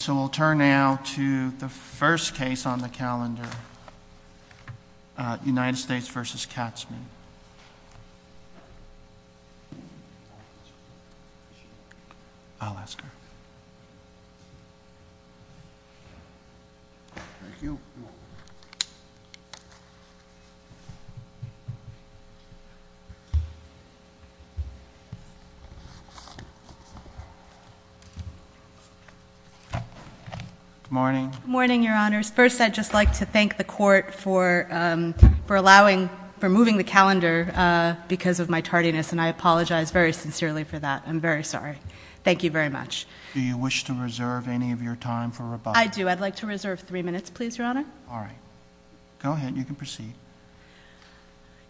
So we'll turn now to the first case on the calendar, United States v. Katzmann. Good morning. Good morning, Your Honors. First, I'd just like to thank the Court for allowing, for moving the calendar because of my tardiness, and I apologize very sincerely for that. I'm very sorry. Thank you very much. Do you wish to reserve any of your time for rebuttal? I do. I'd like to reserve three minutes, please, Your Honor. All right. Go ahead. You can proceed.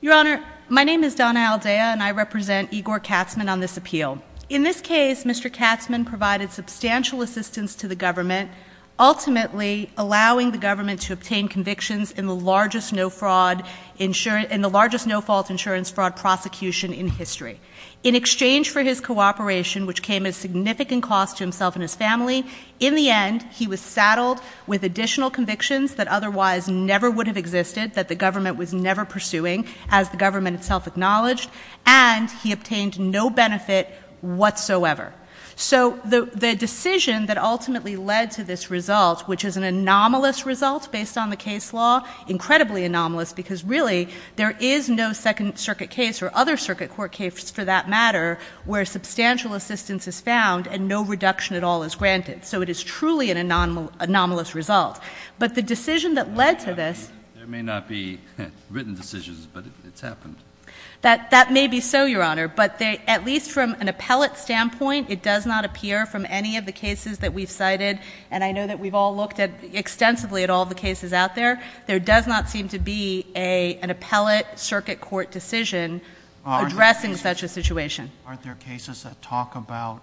Your Honor, my name is Donna Aldea, and I represent Igor Katzmann on this appeal. In this case, Mr. Katzmann provided substantial assistance to the government, ultimately allowing the government to obtain convictions in the largest no-fault insurance fraud prosecution in history. In exchange for his cooperation, which came at a significant cost to himself and his family, in the end, he was saddled with additional convictions that otherwise never would have existed, that the government was never pursuing, as the government itself acknowledged, and he obtained no benefit whatsoever. So the decision that ultimately led to this result, which is an anomalous result based on the case law, incredibly anomalous, because really, there is no Second Circuit case or other circuit court case for that matter where substantial assistance is found and no reduction at all is granted. So it is truly an anomalous result. But the decision that led to this... There may not be written decisions, but it's happened. That may be so, Your Honor, but at least from an appellate standpoint, it does not appear from any of the cases that we've cited, and I know that we've all looked extensively at all the cases out there. There does not seem to be an appellate circuit court decision addressing such a situation. Aren't there cases that talk about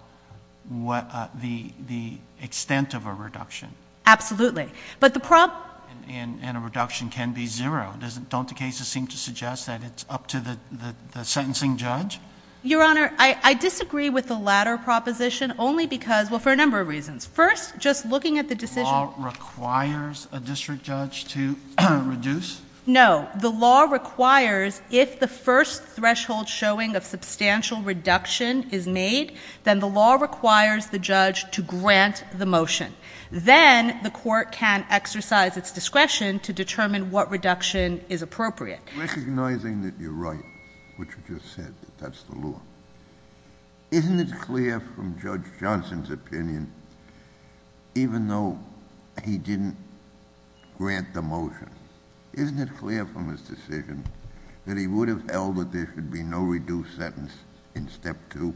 the extent of a reduction? Absolutely. But the... And a reduction can be zero. Don't the cases seem to suggest that it's up to the sentencing judge? Your Honor, I disagree with the latter proposition only because... well, for a number of reasons. First, just looking at the decision... The law requires a district judge to reduce? No. The law requires, if the first threshold showing of substantial reduction is made, then the law requires the judge to grant the motion. Then the court can exercise its discretion to determine what reduction is appropriate. Recognizing that you're right, what you just said, that that's the law, isn't it clear from Judge Johnson's opinion, even though he didn't grant the motion, isn't it clear from his decision that he would have held that there should be no reduced sentence in Step 2?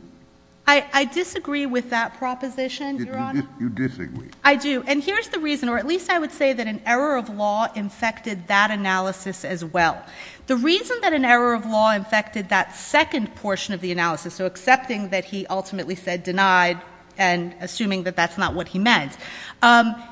I disagree with that proposition, Your Honor. You disagree? I do. And here's the reason, or at least I would say that an error of law infected that analysis as well. The reason that an error of law infected that second portion of the analysis, so accepting that he ultimately said denied and assuming that that's not what he meant,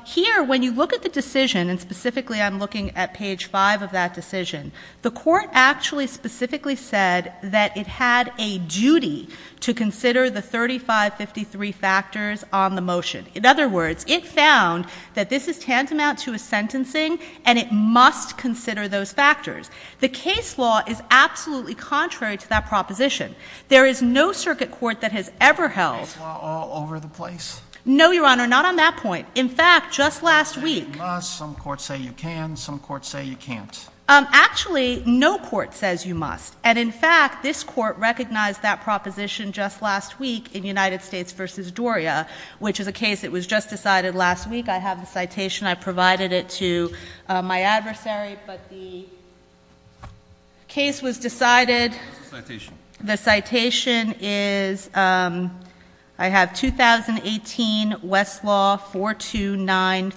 here, when you look at the decision, and specifically I'm looking at page 5 of that decision, the court actually specifically said that it had a duty to consider the 3553 factors on the motion. In other words, it found that this is tantamount to a sentencing, and it must consider those factors. The case law is absolutely contrary to that proposition. There is no circuit court that has ever held— Is error of law all over the place? No, Your Honor, not on that point. In fact, just last week— Some courts say you can, some courts say you can't. Actually, no court says you must. And in fact, this court recognized that proposition just last week in United States v. Doria, which is a case that was just decided last week. I have the citation. I provided it to my adversary, but the case was decided— What's the citation? The citation is—I have 2018, Westlaw,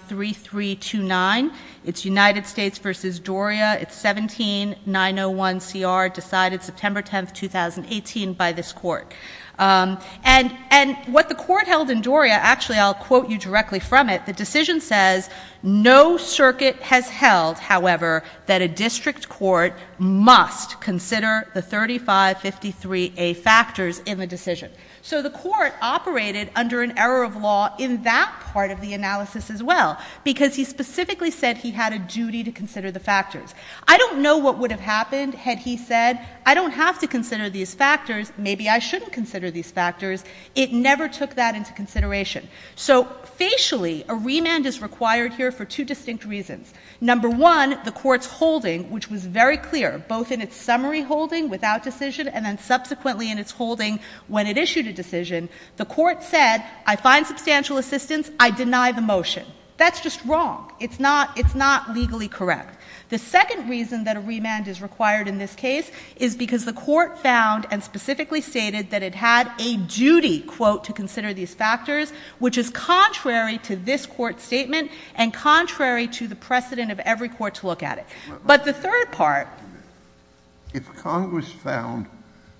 4293329. It's United States v. Doria. It's 17901CR, decided September 10, 2018, by this court. And what the court held in Doria—actually, I'll quote you directly from it. The decision says, no circuit has held, however, that a district court must consider the 3553A factors in the decision. So the court operated under an error of law in that part of the analysis as well, because he specifically said he had a duty to consider the factors. I don't know what would have happened had he said, I don't have to consider these factors. Maybe I shouldn't consider these factors. It never took that into consideration. So facially, a remand is required here for two distinct reasons. Number one, the court's holding, which was very clear, both in its summary holding without decision and then subsequently in its holding when it issued a decision, the court said, I find substantial assistance. I deny the motion. That's just wrong. It's not legally correct. The second reason that a remand is required in this case is because the court found and specifically stated that it had a duty, quote, to consider these factors, which is contrary to this court's statement and contrary to the precedent of every court to look at it. But the third part— If Congress found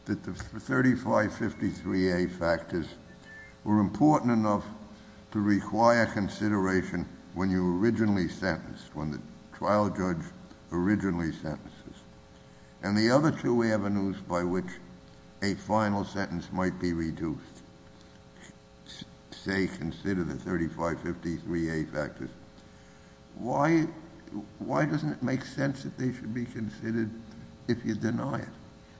that the 3553A factors were important enough to require consideration when you were originally sentenced, when the trial judge originally sentences, and the other two avenues by which a final sentence might be reduced, say, consider the 3553A factors, why doesn't it make sense that they should be considered if you deny it?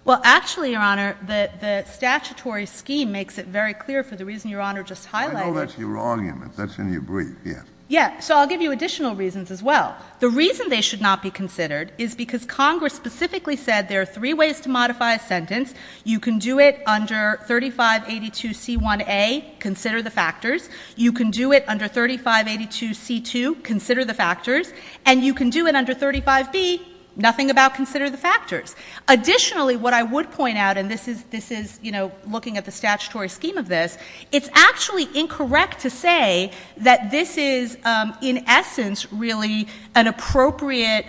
Well, actually, Your Honor, the statutory scheme makes it very clear for the reason Your Honor just highlighted. I know that's your argument. That's in your brief, yes. Yes. So I'll give you additional reasons as well. The reason they should not be considered is because Congress specifically said there are three ways to modify a sentence. You can do it under 3582C1A, consider the factors. You can do it under 3582C2, consider the factors. And you can do it under 35B, nothing about consider the factors. Additionally, what I would point out, and this is, you know, looking at the statutory scheme of this, it's actually incorrect to say that this is in essence really an appropriate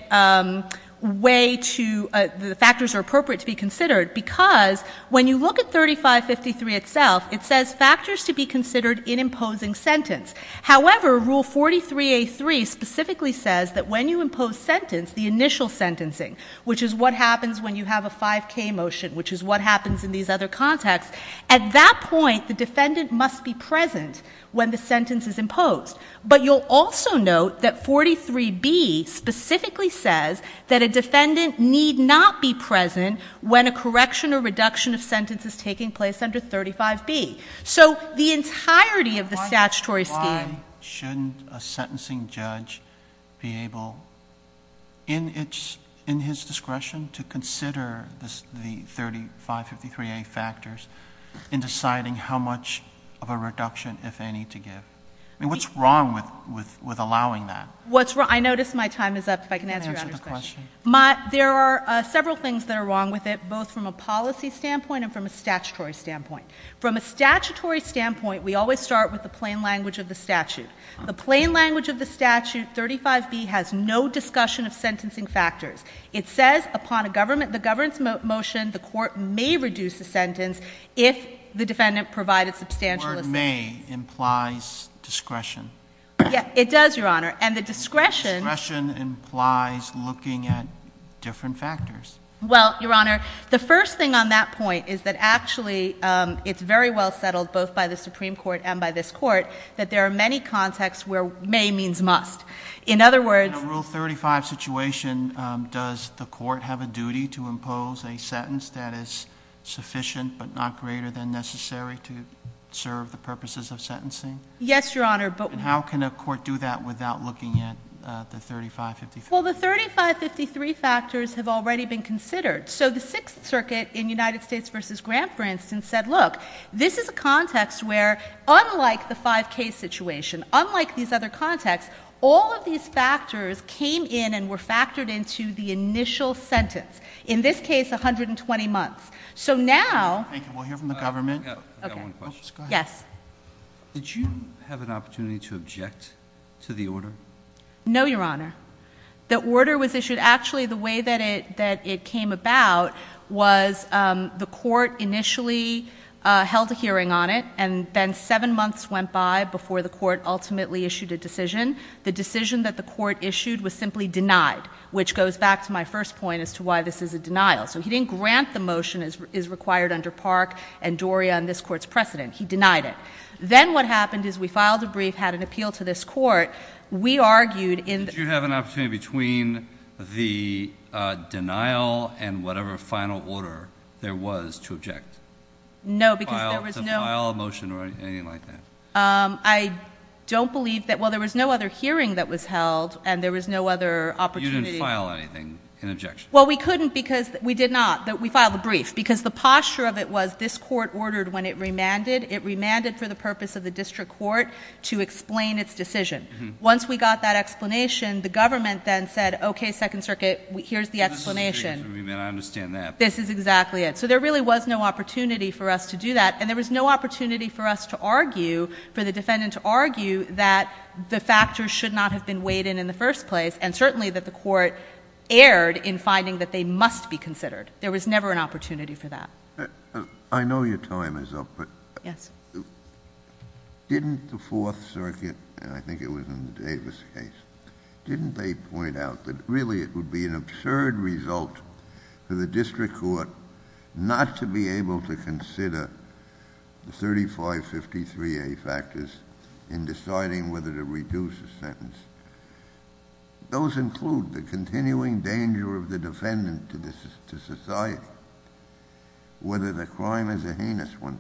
way to, the factors are appropriate to be considered, because when you look at 3553 itself, it says factors to be considered in imposing sentence. However, Rule 43A3 specifically says that when you impose sentence, the initial sentencing, which is what happens when you have a 5K motion, which is what happens in these other contexts, at that point, the defendant must be present when the sentence is imposed. But you'll also note that 43B specifically says that a defendant need not be present when a correction or reduction of sentence is taking place under 35B. So the entirety of the statutory scheme — to consider the 3553A factors in deciding how much of a reduction, if any, to give. I mean, what's wrong with allowing that? I notice my time is up. If I can answer Your Honor's question. You can answer the question. There are several things that are wrong with it, both from a policy standpoint and from a statutory standpoint. From a statutory standpoint, we always start with the plain language of the statute. The plain language of the statute, 35B, has no discussion of sentencing factors. It says upon a government — the government's motion, the court may reduce the sentence if the defendant provided substantial assistance. The word may implies discretion. Yeah, it does, Your Honor. And the discretion — Discretion implies looking at different factors. Well, Your Honor, the first thing on that point is that actually it's very well settled, both by the Supreme Court and by this Court, that there are many contexts where may means must. In other words — In a Rule 35 situation, does the court have a duty to impose a sentence that is sufficient but not greater than necessary to serve the purposes of sentencing? Yes, Your Honor, but — And how can a court do that without looking at the 3553? Well, the 3553 factors have already been considered. So the Sixth Circuit in United States v. Grant, for instance, said, look, this is a context where unlike the 5K situation, unlike these other contexts, all of these factors came in and were factored into the initial sentence. In this case, 120 months. So now — We'll hear from the government. I've got one question. Go ahead. Yes. Did you have an opportunity to object to the order? No, Your Honor. The order was issued — actually, the way that it came about was the court initially held a hearing on it, and then seven months went by before the court ultimately issued a decision. The decision that the court issued was simply denied, which goes back to my first point as to why this is a denial. So he didn't grant the motion as required under Park and Doria and this Court's precedent. He denied it. Then what happened is we filed a brief, had an appeal to this Court. We argued in — Did you have an opportunity between the denial and whatever final order there was to object? No, because there was no — To file a motion or anything like that? I don't believe that — well, there was no other hearing that was held, and there was no other opportunity — You didn't file anything in objection? Well, we couldn't because — we did not. We filed a brief because the posture of it was this Court ordered when it remanded. It remanded for the purpose of the district court to explain its decision. Once we got that explanation, the government then said, okay, Second Circuit, here's the explanation. I understand that. This is exactly it. So there really was no opportunity for us to do that, and there was no opportunity for us to argue, for the defendant to argue that the factors should not have been weighed in in the first place, and certainly that the court erred in finding that they must be considered. There was never an opportunity for that. I know your time is up, but — Yes. Didn't the Fourth Circuit, and I think it was in the Davis case, didn't they point out that really it would be an absurd result for the district court not to be able to consider the 3553A factors in deciding whether to reduce a sentence? Those include the continuing danger of the defendant to society, whether the crime is a heinous one.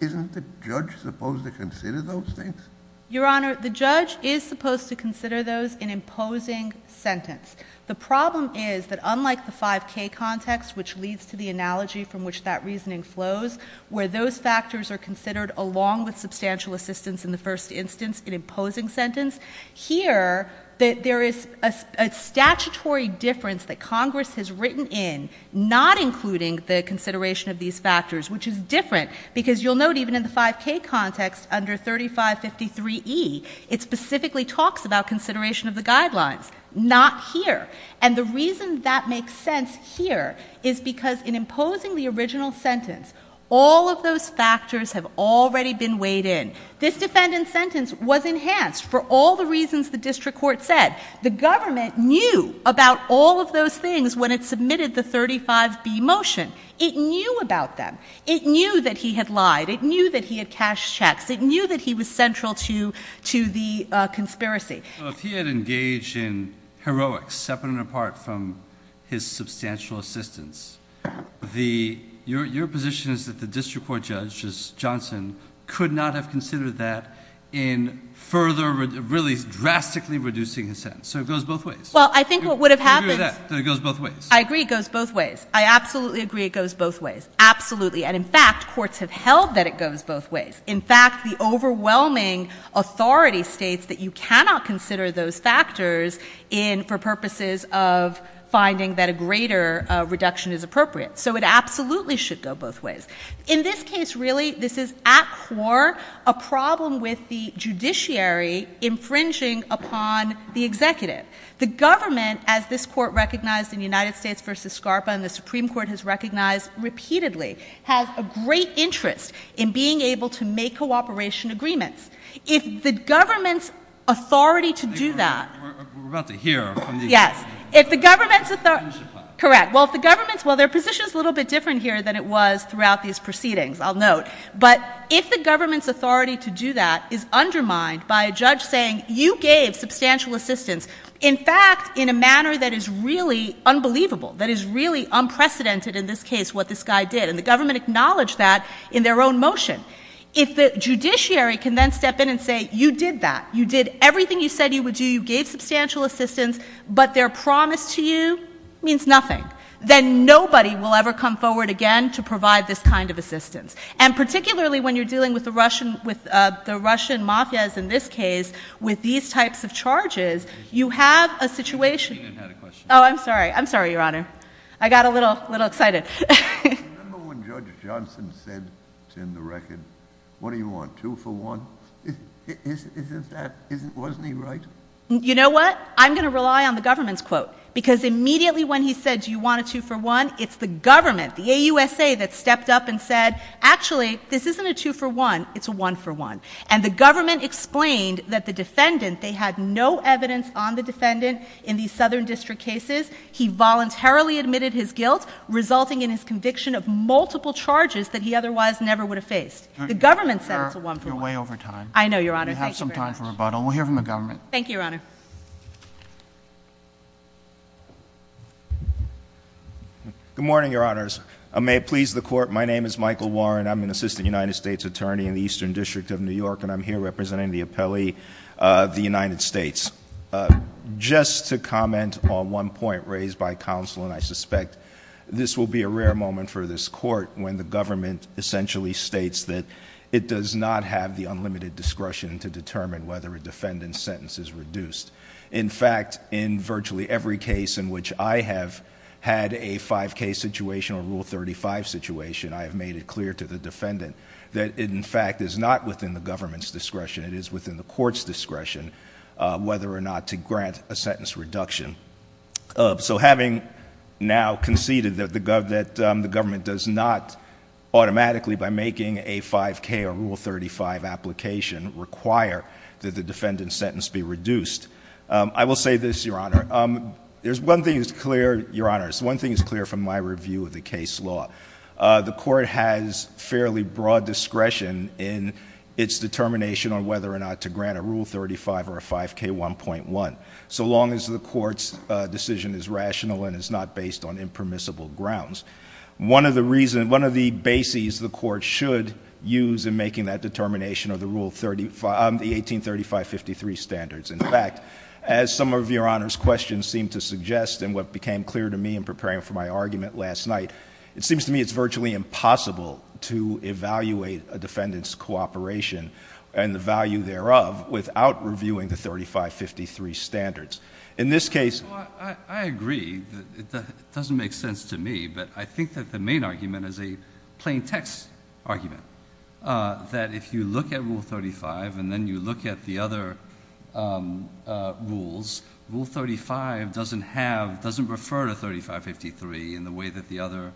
Isn't the judge supposed to consider those things? Your Honor, the judge is supposed to consider those in imposing sentence. The problem is that unlike the 5K context, which leads to the analogy from which that reasoning flows, where those factors are considered along with substantial assistance in the first instance in imposing sentence, here there is a statutory difference that Congress has written in not including the consideration of these factors, which is different because you'll note even in the 5K context under 3553E, it specifically talks about consideration of the guidelines, not here. And the reason that makes sense here is because in imposing the original sentence, all of those factors have already been weighed in. This defendant's sentence was enhanced for all the reasons the district court said. The government knew about all of those things when it submitted the 35B motion. It knew about them. It knew that he had lied. It knew that he had cashed checks. It knew that he was central to the conspiracy. Well, if he had engaged in heroics separate and apart from his substantial assistance, your position is that the district court judge, Johnson, could not have considered that in further, really drastically reducing his sentence. So it goes both ways. Well, I think what would have happened. Do you agree with that, that it goes both ways? I agree it goes both ways. I absolutely agree it goes both ways. Absolutely. And in fact, courts have held that it goes both ways. In fact, the overwhelming authority states that you cannot consider those factors for purposes of finding that a greater reduction is appropriate. So it absolutely should go both ways. In this case, really, this is at core a problem with the judiciary infringing upon the executive. The government, as this court recognized in United States v. SCARPA and the Supreme Court has recognized repeatedly, has a great interest in being able to make cooperation agreements. If the government's authority to do that. We're about to hear from you. Yes. If the government's authority. Correct. Well, if the government's. Well, their position is a little bit different here than it was throughout these proceedings, I'll note. But if the government's authority to do that is undermined by a judge saying you gave substantial assistance, in fact, in a manner that is really unbelievable, that is really unprecedented in this case, what this guy did. And the government acknowledged that in their own motion. If the judiciary can then step in and say you did that, you did everything you said you would do, you gave substantial assistance, but their promise to you means nothing, then nobody will ever come forward again to provide this kind of assistance. And particularly when you're dealing with the Russian mafias in this case with these types of charges, you have a situation. Oh, I'm sorry. I'm sorry, Your Honor. I got a little excited. Remember when Judge Johnson said to him, the record, what do you want, two for one? Isn't that, wasn't he right? You know what? I'm going to rely on the government's quote because immediately when he said do you want a two for one, it's the government, the AUSA, that stepped up and said, actually, this isn't a two for one, it's a one for one. And the government explained that the defendant, they had no evidence on the defendant in these Southern District cases. He voluntarily admitted his guilt, resulting in his conviction of multiple charges that he otherwise never would have faced. The government said it's a one for one. You're way over time. I know, Your Honor. Thank you very much. You have some time for rebuttal. We'll hear from the government. Thank you, Your Honor. Good morning, Your Honors. May it please the Court, my name is Michael Warren. I'm an assistant United States attorney in the Eastern District of New York, and I'm here representing the appellee of the United States. Just to comment on one point raised by counsel, and I suspect this will be a rare moment for this court, when the government essentially states that it does not have the unlimited discretion to determine whether a defendant's sentence is reduced. In fact, in virtually every case in which I have had a 5K situation or Rule 35 situation, I have made it clear to the defendant that it, in fact, is not within the government's discretion. It is within the court's discretion whether or not to grant a sentence reduction. So having now conceded that the government does not automatically, by making a 5K or Rule 35 application, require that the defendant's sentence be reduced, I will say this, Your Honor. There's one thing that's clear, Your Honors, one thing that's clear from my review of the case law. The court has fairly broad discretion in its determination on whether or not to grant a Rule 35 or a 5K 1.1, so long as the court's decision is rational and is not based on impermissible grounds. One of the reasons, one of the bases the court should use in making that determination are the Rule 35, the 183553 standards. In fact, as some of Your Honor's questions seem to suggest, and what became clear to me in preparing for my argument last night, it seems to me it's virtually impossible to evaluate a defendant's cooperation and the value thereof without reviewing the 3553 standards. In this case— Well, I agree. It doesn't make sense to me, but I think that the main argument is a plain text argument, that if you look at Rule 35 and then you look at the other rules, Rule 35 doesn't refer to 3553 in the way that the other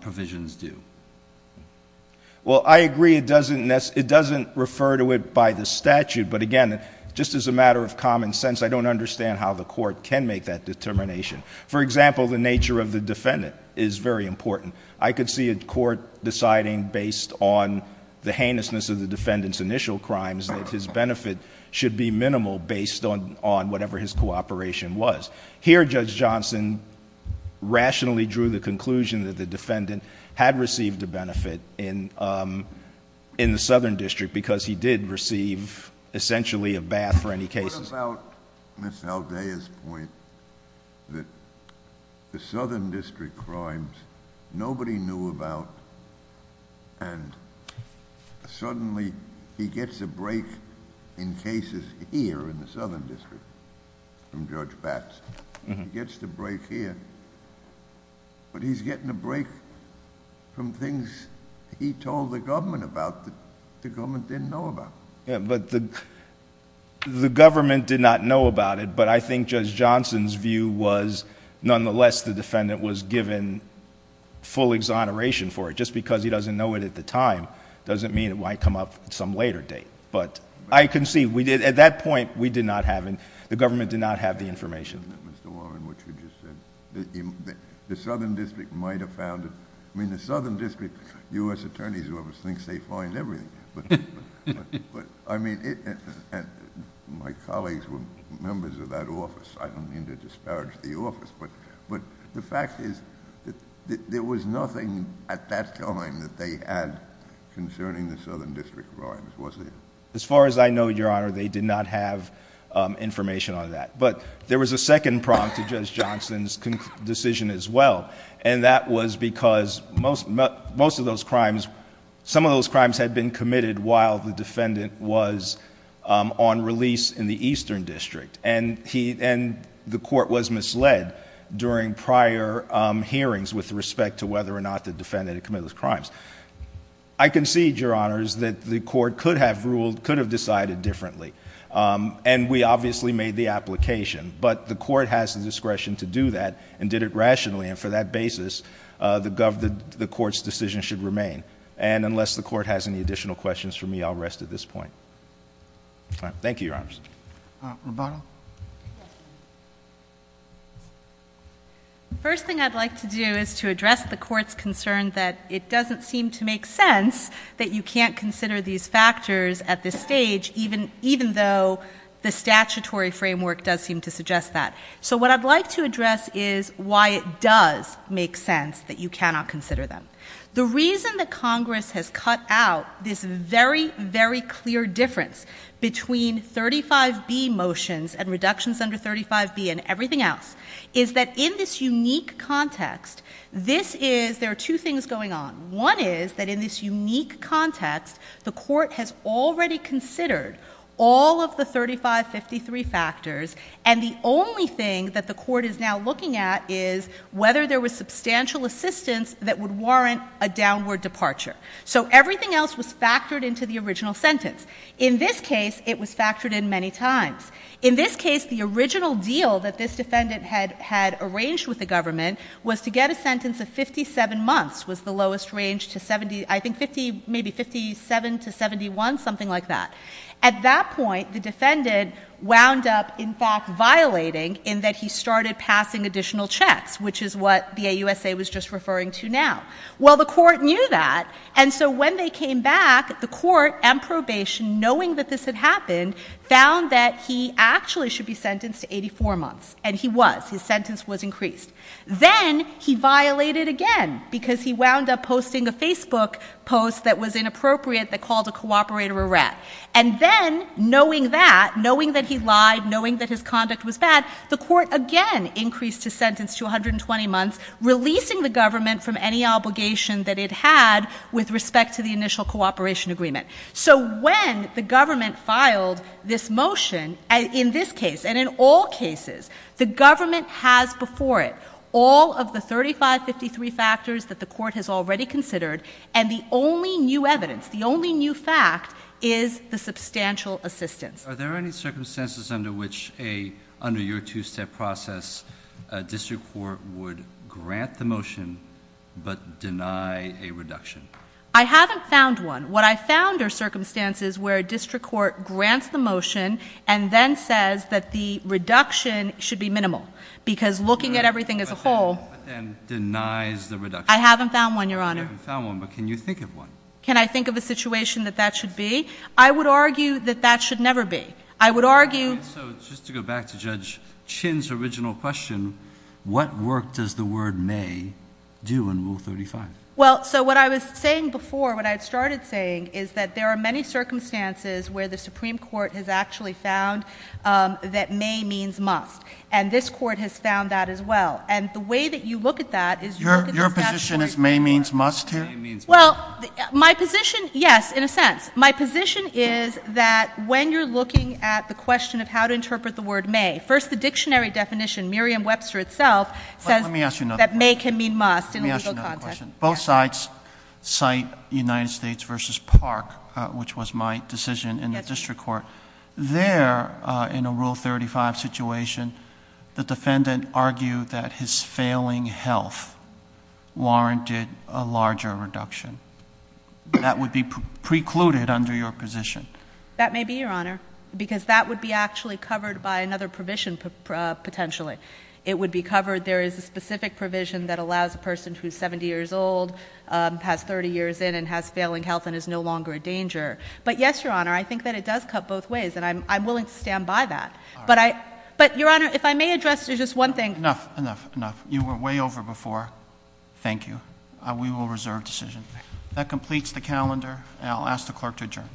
provisions do. Well, I agree it doesn't refer to it by the statute, but again, just as a matter of common sense, I don't understand how the court can make that determination. For example, the nature of the defendant is very important. I could see a court deciding based on the heinousness of the defendant's initial crimes that his benefit should be minimal based on whatever his cooperation was. Here, Judge Johnson rationally drew the conclusion that the defendant had received a benefit in the Southern District because he did receive essentially a bath for any cases. What about Ms. Aldea's point that the Southern District crimes nobody knew about and suddenly he gets a break in cases here in the Southern District from Judge Batts. He gets the break here, but he's getting a break from things he told the government about that the government didn't know about. The government did not know about it, but I think Judge Johnson's view was nonetheless the defendant was given full exoneration for it. Just because he doesn't know it at the time doesn't mean it might come up at some later date, but I can see at that point the government did not have the information. Mr. Warren, what you just said, the Southern District might have found... I mean, the Southern District U.S. Attorneys Office thinks they find everything, I don't mean to disparage the office, but the fact is that there was nothing at that time that they had concerning the Southern District crimes, was there? As far as I know, Your Honor, they did not have information on that. But there was a second prompt to Judge Johnson's decision as well, and that was because most of those crimes, some of those crimes had been committed while the defendant was on release in the Eastern District. And the court was misled during prior hearings with respect to whether or not the defendant had committed those crimes. I concede, Your Honors, that the court could have ruled, could have decided differently, and we obviously made the application, but the court has the discretion to do that and did it rationally, and for that basis, the court's decision should remain. And unless the court has any additional questions for me, I'll rest at this point. Thank you, Your Honors. Roboto? The first thing I'd like to do is to address the court's concern that it doesn't seem to make sense that you can't consider these factors at this stage, even though the statutory framework does seem to suggest that. So what I'd like to address is why it does make sense that you cannot consider them. The reason that Congress has cut out this very, very clear difference between 35B motions and reductions under 35B and everything else is that in this unique context, this is, there are two things going on. One is that in this unique context, the court has already considered all of the 3553 factors, and the only thing that the court is now looking at is whether there was substantial assistance that would warrant a downward departure. So everything else was factored into the original sentence. In this case, it was factored in many times. In this case, the original deal that this defendant had arranged with the government was to get a sentence of 57 months was the lowest range to 70, I think 50, maybe 57 to 71, something like that. At that point, the defendant wound up, in fact, violating in that he started passing additional checks, which is what the AUSA was just referring to now. Well, the court knew that, and so when they came back, the court, on probation, knowing that this had happened, found that he actually should be sentenced to 84 months. And he was. His sentence was increased. Then he violated again because he wound up posting a Facebook post that was inappropriate that called a cooperator a rat. And then, knowing that, knowing that he lied, knowing that his conduct was bad, the court again increased his sentence to 120 months, releasing the government from any obligation that it had with respect to the initial cooperation agreement. So when the government filed this motion, in this case and in all cases, the government has before it all of the 3553 factors that the court has already considered, and the only new evidence, the only new fact is the substantial assistance. Are there any circumstances under which a, under your two-step process, a district court would grant the motion but deny a reduction? I haven't found one. What I found are circumstances where a district court grants the motion and then says that the reduction should be minimal because looking at everything as a whole. But then denies the reduction. I haven't found one, Your Honor. You haven't found one, but can you think of one? Can I think of a situation that that should be? I would argue that that should never be. I would argue. All right. So just to go back to Judge Chinn's original question, what work does the word may do in Rule 35? Well, so what I was saying before, what I had started saying, is that there are many circumstances where the Supreme Court has actually found that may means must. And this court has found that as well. And the way that you look at that is you look at the statutory court. Your position is may means must here? May means must. Well, my position, yes, in a sense. My position is that when you're looking at the question of how to interpret the word may, first the dictionary definition, Merriam-Webster itself, says that may can mean must in a legal context. Let me ask you another question. Both sides cite United States v. Park, which was my decision in the district court. There, in a Rule 35 situation, the defendant argued that his failing health warranted a larger reduction. That would be precluded under your position. That may be, Your Honor, because that would be actually covered by another provision, potentially. It would be covered. There is a specific provision that allows a person who is 70 years old, has 30 years in, and has failing health and is no longer a danger. But, yes, Your Honor, I think that it does cut both ways, and I'm willing to stand by that. But, Your Honor, if I may address just one thing. Enough, enough, enough. You were way over before. Thank you. We will reserve decision. That completes the calendar, and I'll ask the clerk to adjourn.